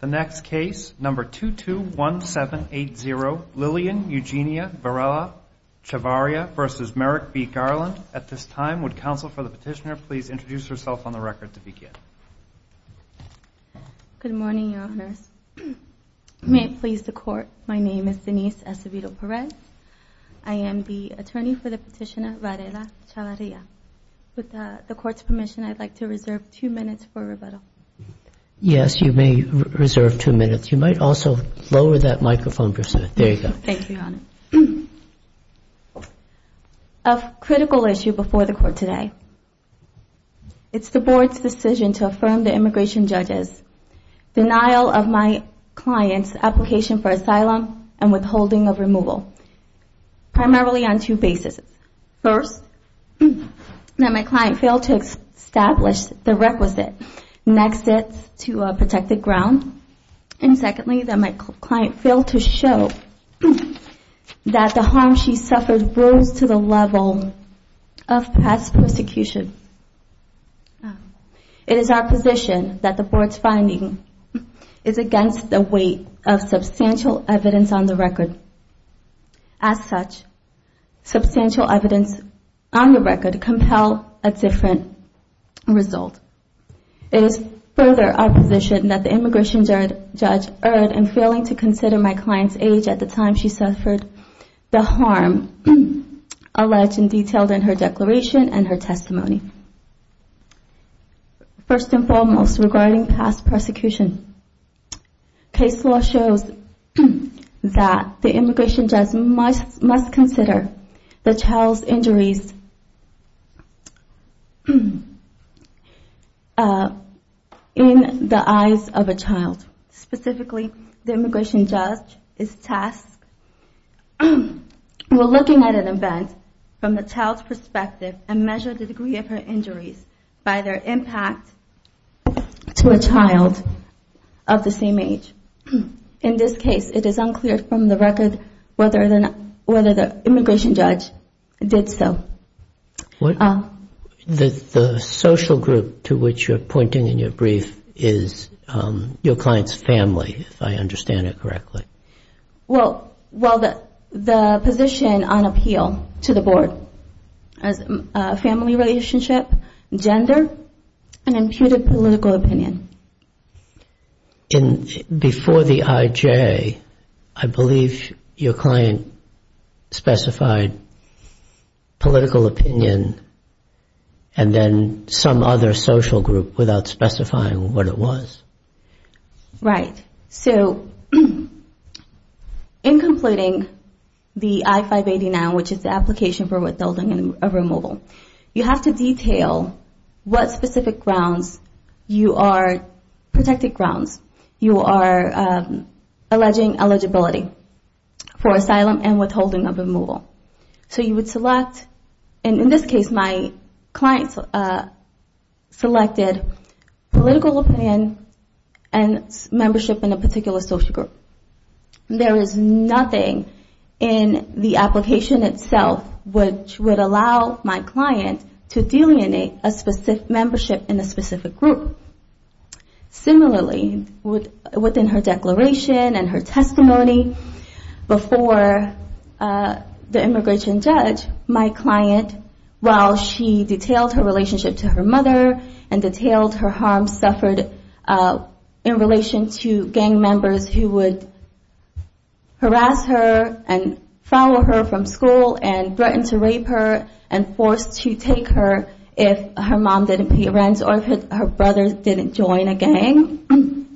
The next case, number 221780, Lillian Eugenia Varela-Chavarria v. Merrick B. Garland. At this time, would counsel for the petitioner please introduce herself on the record to begin? Good morning, Your Honors. May it please the Court, my name is Denise Acevedo Perez. I am the attorney for the petitioner, Varela-Chavarria. With the Court's permission, I'd like to reserve two minutes for rebuttal. Yes, you may reserve two minutes. You might also lower that microphone, Professor. There you go. Thank you, Your Honor. A critical issue before the Court today. It's the Board's decision to affirm the immigration judge's denial of my client's application for asylum and withholding of removal. Primarily on two bases. First, that my client failed to establish the requisite. Next, it's to protect the ground. And secondly, that my client failed to show that the harm she suffered rose to the level of past persecution. It is our position that the Board's finding is against the weight of substantial evidence on the record. As such, substantial evidence on the record compels a different result. It is further our position that the immigration judge erred in failing to consider my client's age at the time she suffered the harm alleged and detailed in her declaration and her testimony. First and foremost, regarding past persecution. Case law shows that the immigration judge must consider the child's injuries in the eyes of a child. Specifically, the immigration judge is tasked with looking at an event from the child's perspective and measure the degree of her injuries by their impact to a child of the same age. In this case, it is unclear from the record whether the immigration judge did so. The social group to which you're pointing in your brief is your client's family, if I understand it correctly. Well, the position on appeal to the Board as a family relationship, gender, and imputed political opinion. Before the IJ, I believe your client specified political opinion and then some other social group without specifying what it was. Right. So, in completing the I-589, which is the application for withholding of removal, you have to detail what specific grounds you are protecting grounds. You are alleging eligibility for asylum and withholding of removal. So, you would select, and in this case, my client selected political opinion and membership in a particular social group. There is nothing in the application itself which would allow my client to delineate a membership in a specific group. Similarly, within her declaration and her testimony, before the immigration judge, my client, while she detailed her relationship to her mother and detailed her harm suffered in relation to gang members who would harass her and follow her from school and threaten to rape her and force to take her if her mom didn't pay rent or if her brother didn't join a gang.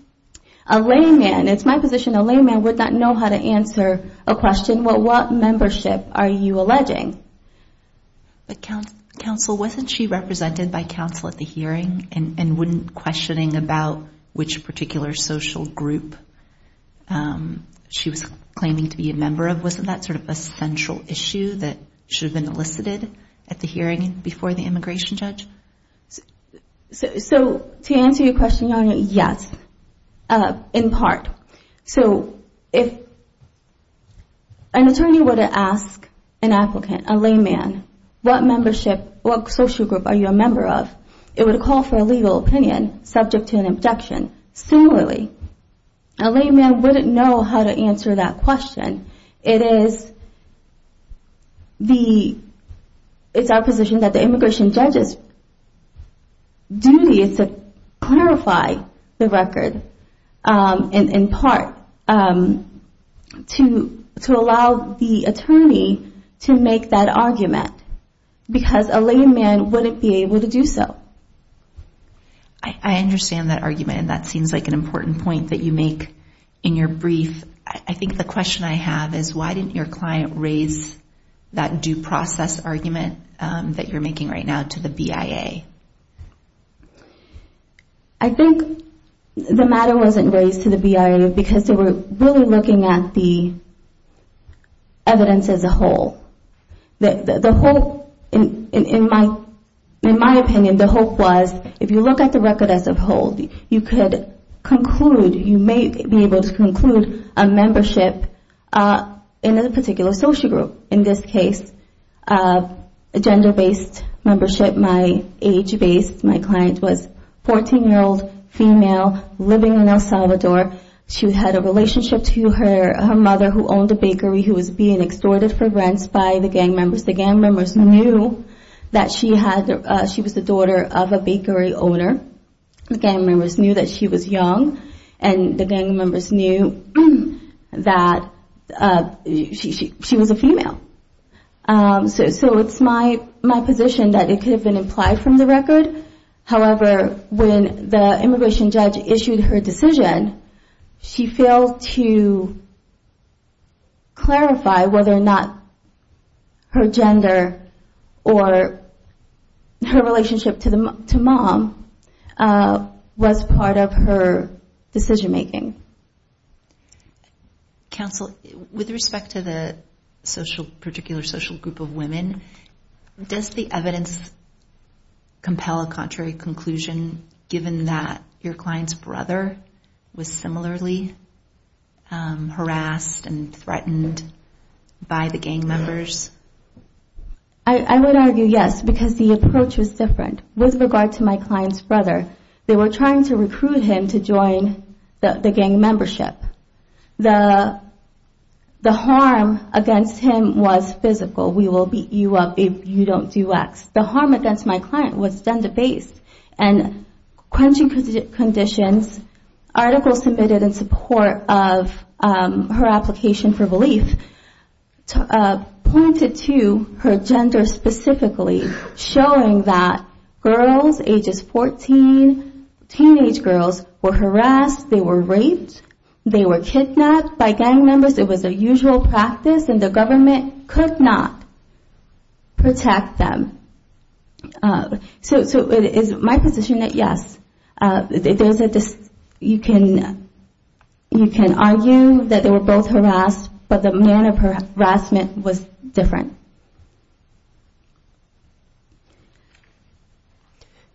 A layman, it's my position, a layman would not know how to answer a question, well, what membership are you alleging? But, counsel, wasn't she represented by counsel at the hearing and wouldn't questioning about which particular social group she was claiming to be a member of? Wasn't that sort of a central issue that should have been elicited at the hearing before the immigration judge? So, to answer your question, Your Honor, yes, in part. So, if an attorney were to ask an applicant, a layman, what membership, what social group are you a member of, it would call for a legal opinion subject to an objection. Similarly, a layman wouldn't know how to answer that question. It is our position that the immigration judge's duty is to clarify the record, in part, to allow the attorney to make that argument because a layman wouldn't be able to do so. I understand that argument and that seems like an important point that you make in your brief. I think the question I have is why didn't your client raise that due process argument that you're making right now to the BIA? I think the matter wasn't raised to the BIA because they were really looking at the evidence as a whole. The whole, in my opinion, the whole was if you look at the record as a whole, you could conclude, you may be able to conclude a membership in a particular social group. In this case, a gender-based membership. My age base, my client was a 14-year-old female living in El Salvador. She had a relationship to her mother who owned a bakery who was being extorted for rents by the gang members. The gang members knew that she was the daughter of a bakery owner. The gang members knew that she was young and the gang members knew that she was a female. So it's my position that it could have been implied from the record. However, when the immigration judge issued her decision, she failed to clarify whether or not her gender or her relationship to mom was part of her decision-making. Counsel, with respect to the particular social group of women, does the evidence compel a contrary conclusion, given that your client's brother was similarly harassed and threatened by the gang members? I would argue yes, because the approach was different. With regard to my client's brother, they were trying to recruit him to join the gang membership. The harm against him was physical. We will beat you up if you don't do X. The harm against my client was gender-based. In quenching conditions, articles submitted in support of her application for relief pointed to her gender specifically, showing that girls ages 14, teenage girls, were harassed, they were raped, they were kidnapped by gang members. It was a usual practice and the government could not protect them. So it is my position that yes, you can argue that they were both harassed, but the manner of harassment was different.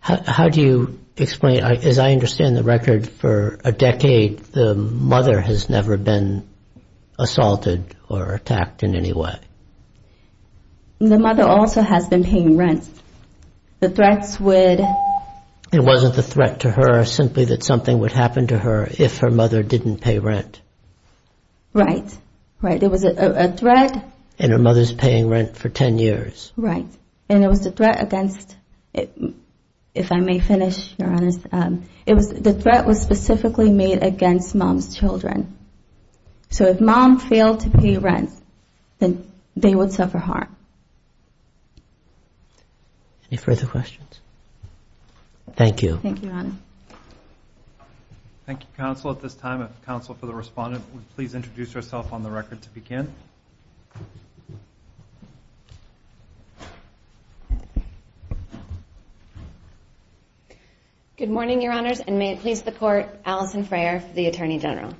How do you explain, as I understand the record for a decade, the mother has never been assaulted or attacked in any way? The mother also has been paying rent. The threats would... It wasn't a threat to her, simply that something would happen to her if her mother didn't pay rent. Right, right. It was a threat. And her mother's paying rent for 10 years. Right. And it was a threat against, if I may finish, Your Honor. The threat was specifically made against mom's children. So if mom failed to pay rent, then they would suffer harm. Any further questions? Thank you. Thank you, Your Honor. Thank you, Counsel. At this time, if Counsel for the Respondent would please introduce herself on the record to begin. Good morning, Your Honors, and may it please the Court, Alison Frayer for the Attorney General.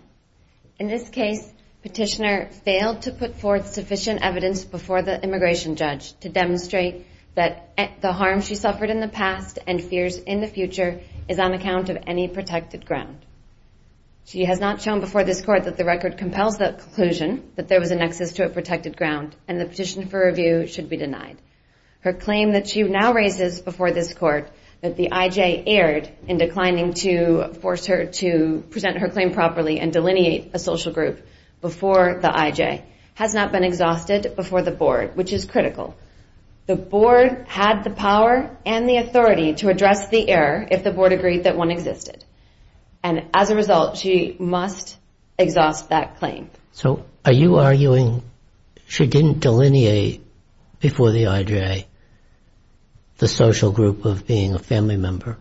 In this case, Petitioner failed to put forth sufficient evidence before the immigration judge to demonstrate that the harm she suffered in the past and fears in the future is on account of any protected ground. She has not shown before this Court that the record compels the conclusion that there was a nexus to a protected ground, and the petition for review should be denied. Her claim that she now raises before this Court that the IJ erred in declining to force her to present her claim properly and delineate a social group before the IJ has not been exhausted before the Board, which is critical. The Board had the power and the authority to address the error if the Board agreed that one existed, and as a result, she must exhaust that claim. So are you arguing she didn't delineate before the IJ the social group of being a family member,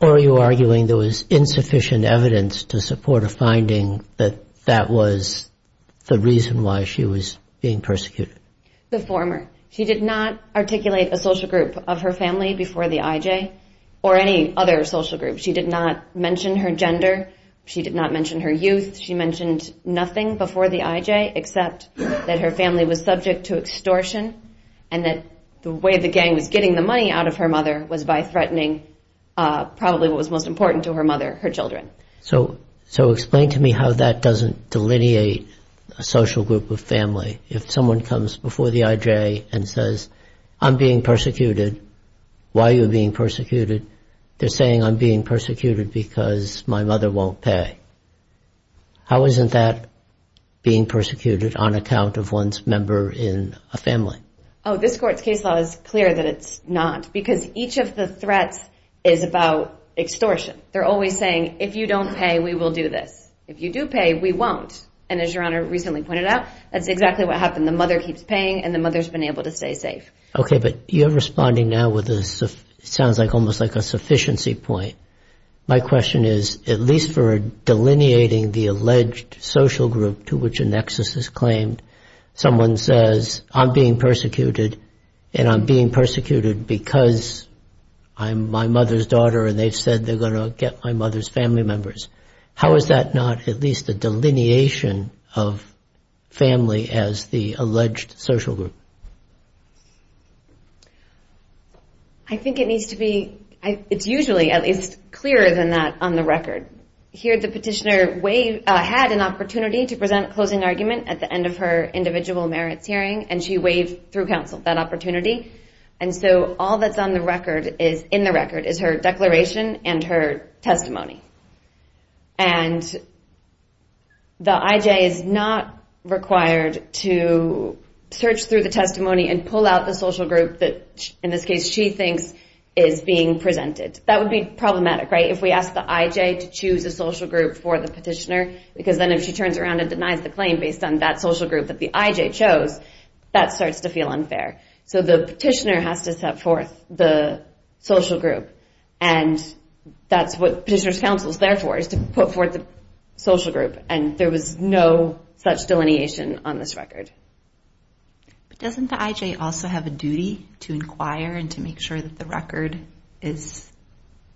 or are you arguing there was insufficient evidence to support a finding that that was the reason why she was being persecuted? The former. She did not articulate a social group of her family before the IJ or any other social group. She did not mention her gender. She did not mention her youth. She mentioned nothing before the IJ except that her family was subject to extortion and that the way the gang was getting the money out of her mother was by threatening probably what was most important to her mother, her children. So explain to me how that doesn't delineate a social group of family. If someone comes before the IJ and says, I'm being persecuted, why are you being persecuted? They're saying I'm being persecuted because my mother won't pay. How isn't that being persecuted on account of one's member in a family? Oh, this court's case law is clear that it's not, because each of the threats is about extortion. They're always saying, if you don't pay, we will do this. If you do pay, we won't. And as Your Honor recently pointed out, that's exactly what happened. The mother keeps paying, and the mother's been able to stay safe. Okay, but you're responding now with what sounds almost like a sufficiency point. My question is, at least for delineating the alleged social group to which a nexus is claimed, someone says, I'm being persecuted, and I'm being persecuted because I'm my mother's daughter, and they've said they're going to get my mother's family members. How is that not at least a delineation of family as the alleged social group? I think it needs to be, it's usually at least clearer than that on the record. Here the petitioner had an opportunity to present a closing argument at the end of her individual merits hearing, and she waived through counsel that opportunity. And so all that's in the record is her declaration and her testimony. And the IJ is not required to search through the testimony and pull out the social group that in this case she thinks is being presented. That would be problematic, right? If we ask the IJ to choose a social group for the petitioner, because then if she turns around and denies the claim based on that social group that the IJ chose, that starts to feel unfair. So the petitioner has to set forth the social group. And that's what petitioner's counsel is there for, is to put forth the social group. And there was no such delineation on this record. But doesn't the IJ also have a duty to inquire and to make sure that the record is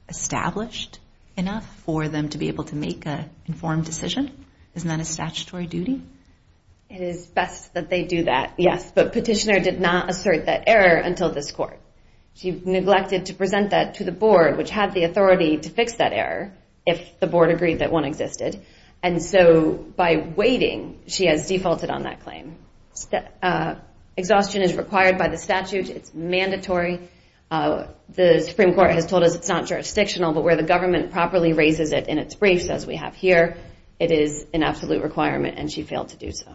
established enough for them to be able to make an informed decision? Isn't that a statutory duty? It is best that they do that, yes. But petitioner did not assert that error until this court. She neglected to present that to the board, which had the authority to fix that error, if the board agreed that one existed. And so by waiting, she has defaulted on that claim. Exhaustion is required by the statute. It's mandatory. The Supreme Court has told us it's not jurisdictional, but where the government properly raises it in its briefs, as we have here, it is an absolute requirement, and she failed to do so.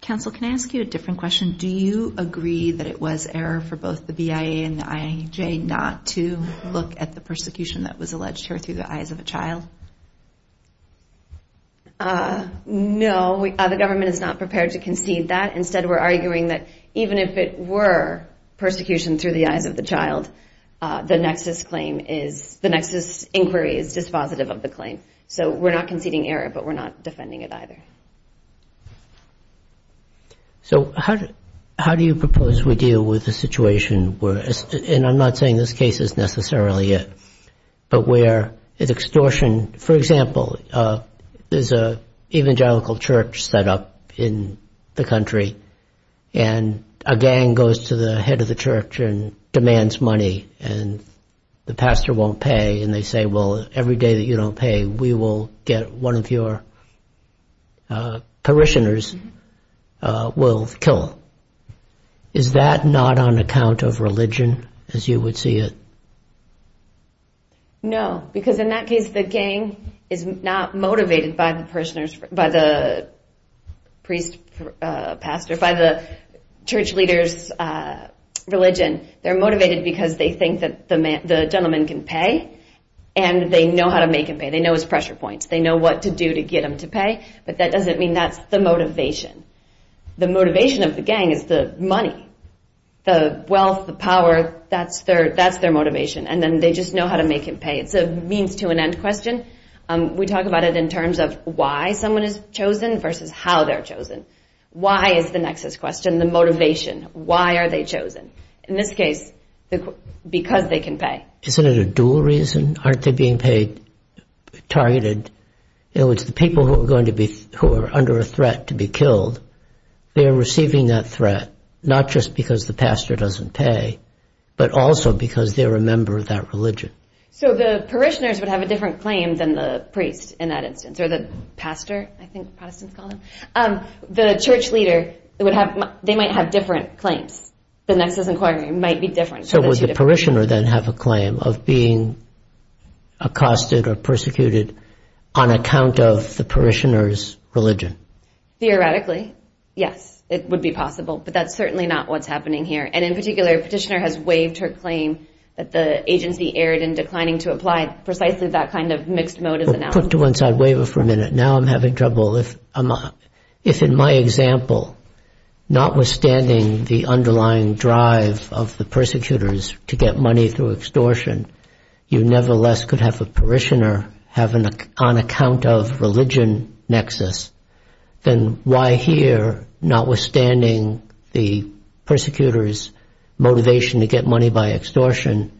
Counsel, can I ask you a different question? Do you agree that it was error for both the BIA and the IJ not to look at the persecution that was alleged here through the eyes of a child? No, the government is not prepared to concede that. Instead, we're arguing that even if it were persecution through the eyes of the child, the nexus inquiry is dispositive of the claim. So we're not conceding error, but we're not defending it either. So how do you propose we deal with the situation where, and I'm not saying this case is necessarily it, but where an extortion, for example, there's an evangelical church set up in the country, and a gang goes to the head of the church and demands money, and the pastor won't pay, and they say, well, every day that you don't pay, we will get one of your parishioners, we'll kill him. Is that not on account of religion, as you would see it? No, because in that case, the gang is not motivated by the pastor, by the church leader's religion. They're motivated because they think that the gentleman can pay, and they know how to make him pay. They know his pressure points, they know what to do to get him to pay, but that doesn't mean that's the motivation. The motivation of the gang is the money. The wealth, the power, that's their motivation, and then they just know how to make him pay. It's a means to an end question. We talk about it in terms of why someone is chosen versus how they're chosen. Why is the nexus question, the motivation, why are they chosen? In this case, because they can pay. Isn't it a dual reason? Aren't they being targeted? In other words, the people who are under a threat to be killed, they're receiving that threat, not just because the pastor doesn't pay, but also because they're a member of that religion. So the parishioners would have a different claim than the priest, in that instance, or the pastor, I think Protestants call them. The church leader, they might have different claims. The nexus inquiry might be different. So would the parishioner then have a claim of being accosted or persecuted on account of the parishioner's religion? Theoretically, yes, it would be possible, but that's certainly not what's happening here. And in particular, a petitioner has waived her claim that the agency erred in declining to apply precisely that kind of mixed motive. Put to one side, waive it for a minute. Now I'm having trouble. If in my example, notwithstanding the underlying drive of the persecutors to get money through extortion, you nevertheless could have a parishioner have an on-account-of-religion nexus, then why here, notwithstanding the persecutors' motivation to get money by extortion,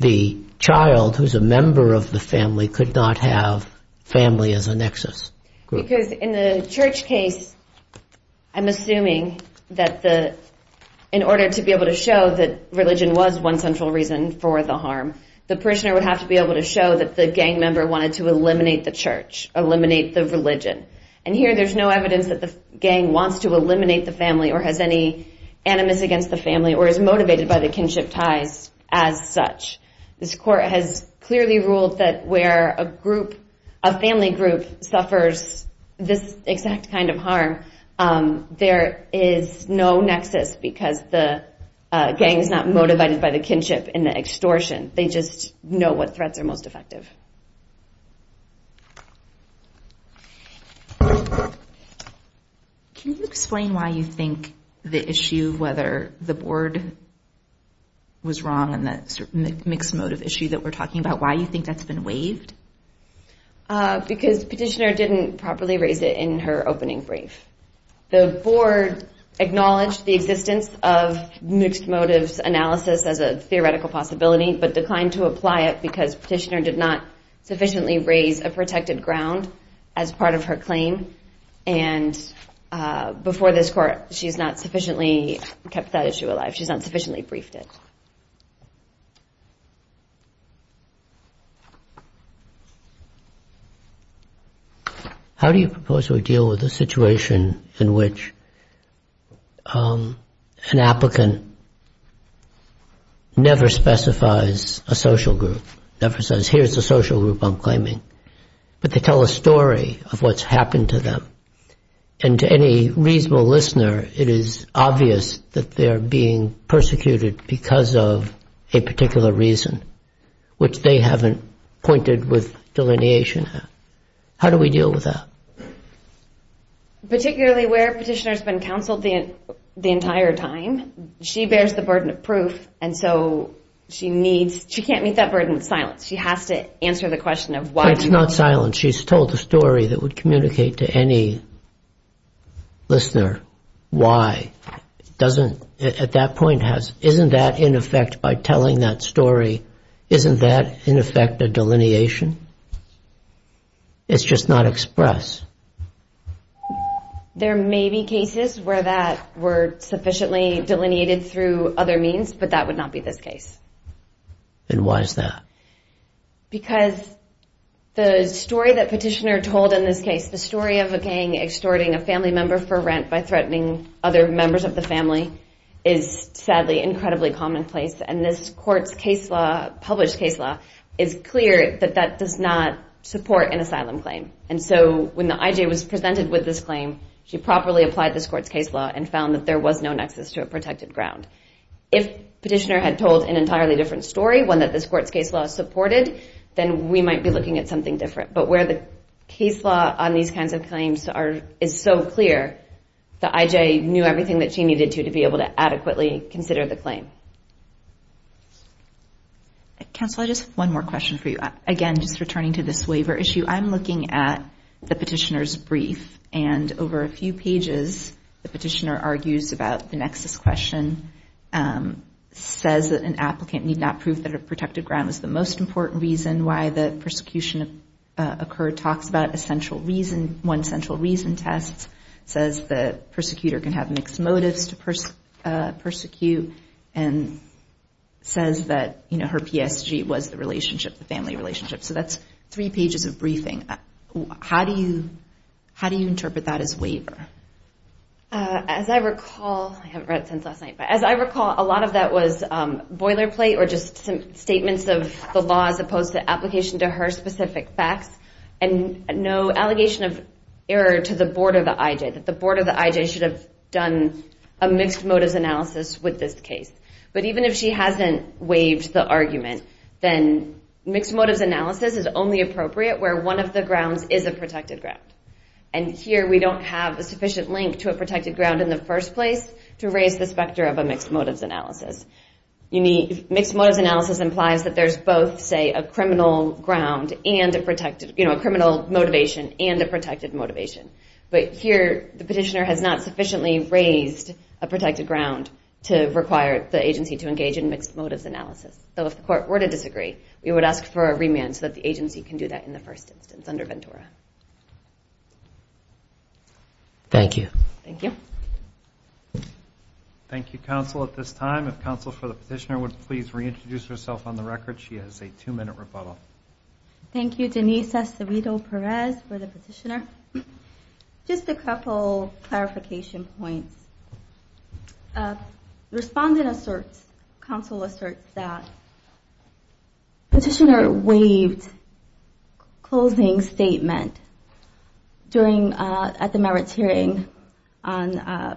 the child, who's a member of the family, could not have family as a nexus? Because in the church case, I'm assuming that in order to be able to show that religion was one central reason for the harm, the parishioner would have to be able to show that the gang member wanted to eliminate the church, eliminate the religion. And here there's no evidence that the gang wants to eliminate the family or has any animus against the family or is motivated by the kinship ties as such. This court has clearly ruled that where a family group suffers this exact kind of harm, there is no nexus because the gang is not motivated by the kinship in the extortion. They just know what threats are most effective. Can you explain why you think the issue whether the board was wrong on that mixed motive issue that we're talking about, why you think that's been waived? Because petitioner didn't properly raise it in her opening brief. The board acknowledged the existence of mixed motives analysis as a theoretical possibility but declined to apply it because petitioner did not sufficiently raise a protected ground as part of her claim. And before this court, she's not sufficiently kept that issue alive, she's not sufficiently briefed it. How do you propose we deal with the situation in which an applicant never specifies a social group, never says here's the social group I'm claiming, but they tell a story of what's happened to them. And to any reasonable listener, it is obvious that they're being persecuted because of a particular reason which they haven't pointed with delineation. How do we deal with that? Particularly where petitioner's been counseled the entire time, she bears the burden of proof and so she can't meet that burden with silence. She has to answer the question of why. It's not silence, she's told a story that would communicate to any listener why. Isn't that in effect by telling that story isn't that in effect a delineation? It's just not expressed. There may be cases where that were sufficiently delineated through other means but that would not be this case. And why is that? Because the story that petitioner told in this case, the story of a gang extorting a family member for rent by threatening other members of the family is sadly incredibly commonplace and this court's case law, published case law, is clear that that does not support an asylum claim. And so when the IJ was presented with this claim, she properly applied this court's case law and found that there was no nexus to a protected ground. If petitioner had told an entirely different story, one that this court's case law supported, then we might be looking at something different. But where the case law on these kinds of claims is so clear, the IJ knew everything that she needed to to be able to adequately consider the claim. Counsel, I just have one more question for you. Again, just returning to this waiver issue, I'm looking at the petitioner's brief and over a few pages the petitioner argues about the nexus question, says that an applicant need not prove that a protected ground was the most important reason why the persecution occurred, talks about one central reason test, says the persecutor can have mixed motives to persecute, and says that her PSG was the relationship, the family relationship. So that's three pages of briefing. How do you interpret that as waiver? As I recall, I haven't read it since last night, but as I recall, a lot of that was boilerplate or just statements of the law as opposed to application to her specific facts and no allegation of error to the board of the IJ, that the board of the IJ should have done a mixed motives analysis with this case. But even if she hasn't waived the argument, then mixed motives analysis is only appropriate where one of the grounds is a protected ground. And here we don't have a sufficient link to a protected ground in the first place to raise the specter of a mixed motives analysis. Mixed motives analysis implies that there's both, say, a criminal motivation and a protected motivation. But here the petitioner has not sufficiently raised a protected ground to require the agency to engage in mixed motives analysis. So if the court were to disagree, we would ask for a remand so that the agency can do that in the first instance under Ventura. Thank you. Thank you, counsel, at this time. If counsel for the petitioner would please reintroduce herself on the record, she has a two-minute rebuttal. Thank you, Denise Acevedo Perez for the petitioner. Just a couple clarification points. Respondent asserts, counsel asserts that petitioner waived closing statement at the merits hearing on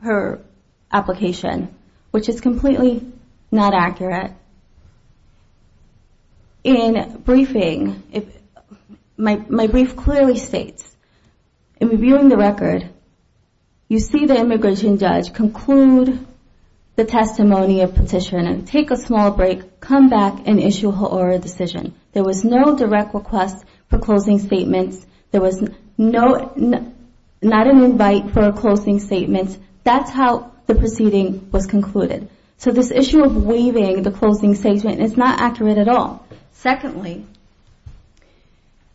her application, which is completely not accurate. In briefing, my brief clearly states in reviewing the record, you see the immigration judge conclude the testimony of petitioner, take a small break, come back and issue her oral decision. There was no direct request for closing statements. There was not an invite for a closing statement. That's how the proceeding was concluded. So this issue of waiving the closing statement is not accurate at all. Secondly,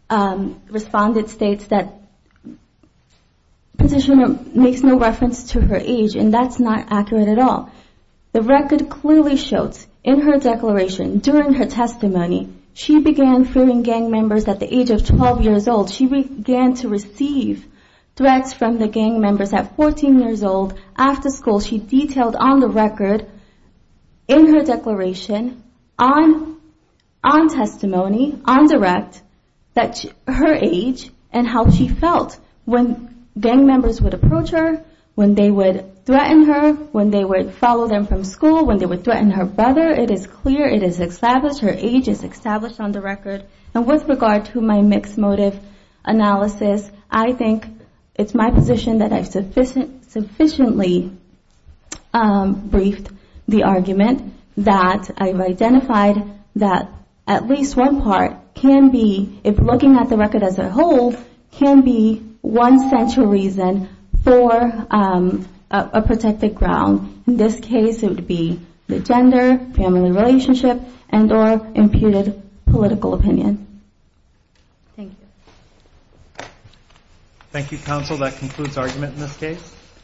respondent states that petitioner makes no reference to her age and that's not accurate at all. The record clearly shows in her declaration, during her testimony, she began fearing gang members at the age of 12 years old. She began to receive threats from the gang members at 14 years old after school. She detailed on the record in her declaration on testimony, on direct, her age and how she felt when gang members would approach her, when they would threaten her, when they would follow them from school, when they would threaten her brother. It is clear, it is established, her age is established on the record. And with regard to my mixed motive analysis, I think it's my position that I've sufficiently briefed the argument that I've identified that at least one part can be, if looking at the record as a whole, can be one central reason for a protected ground. In this case it would be the gender, family relationship and or imputed political opinion. Thank you. Thank you counsel, that concludes argument in this case.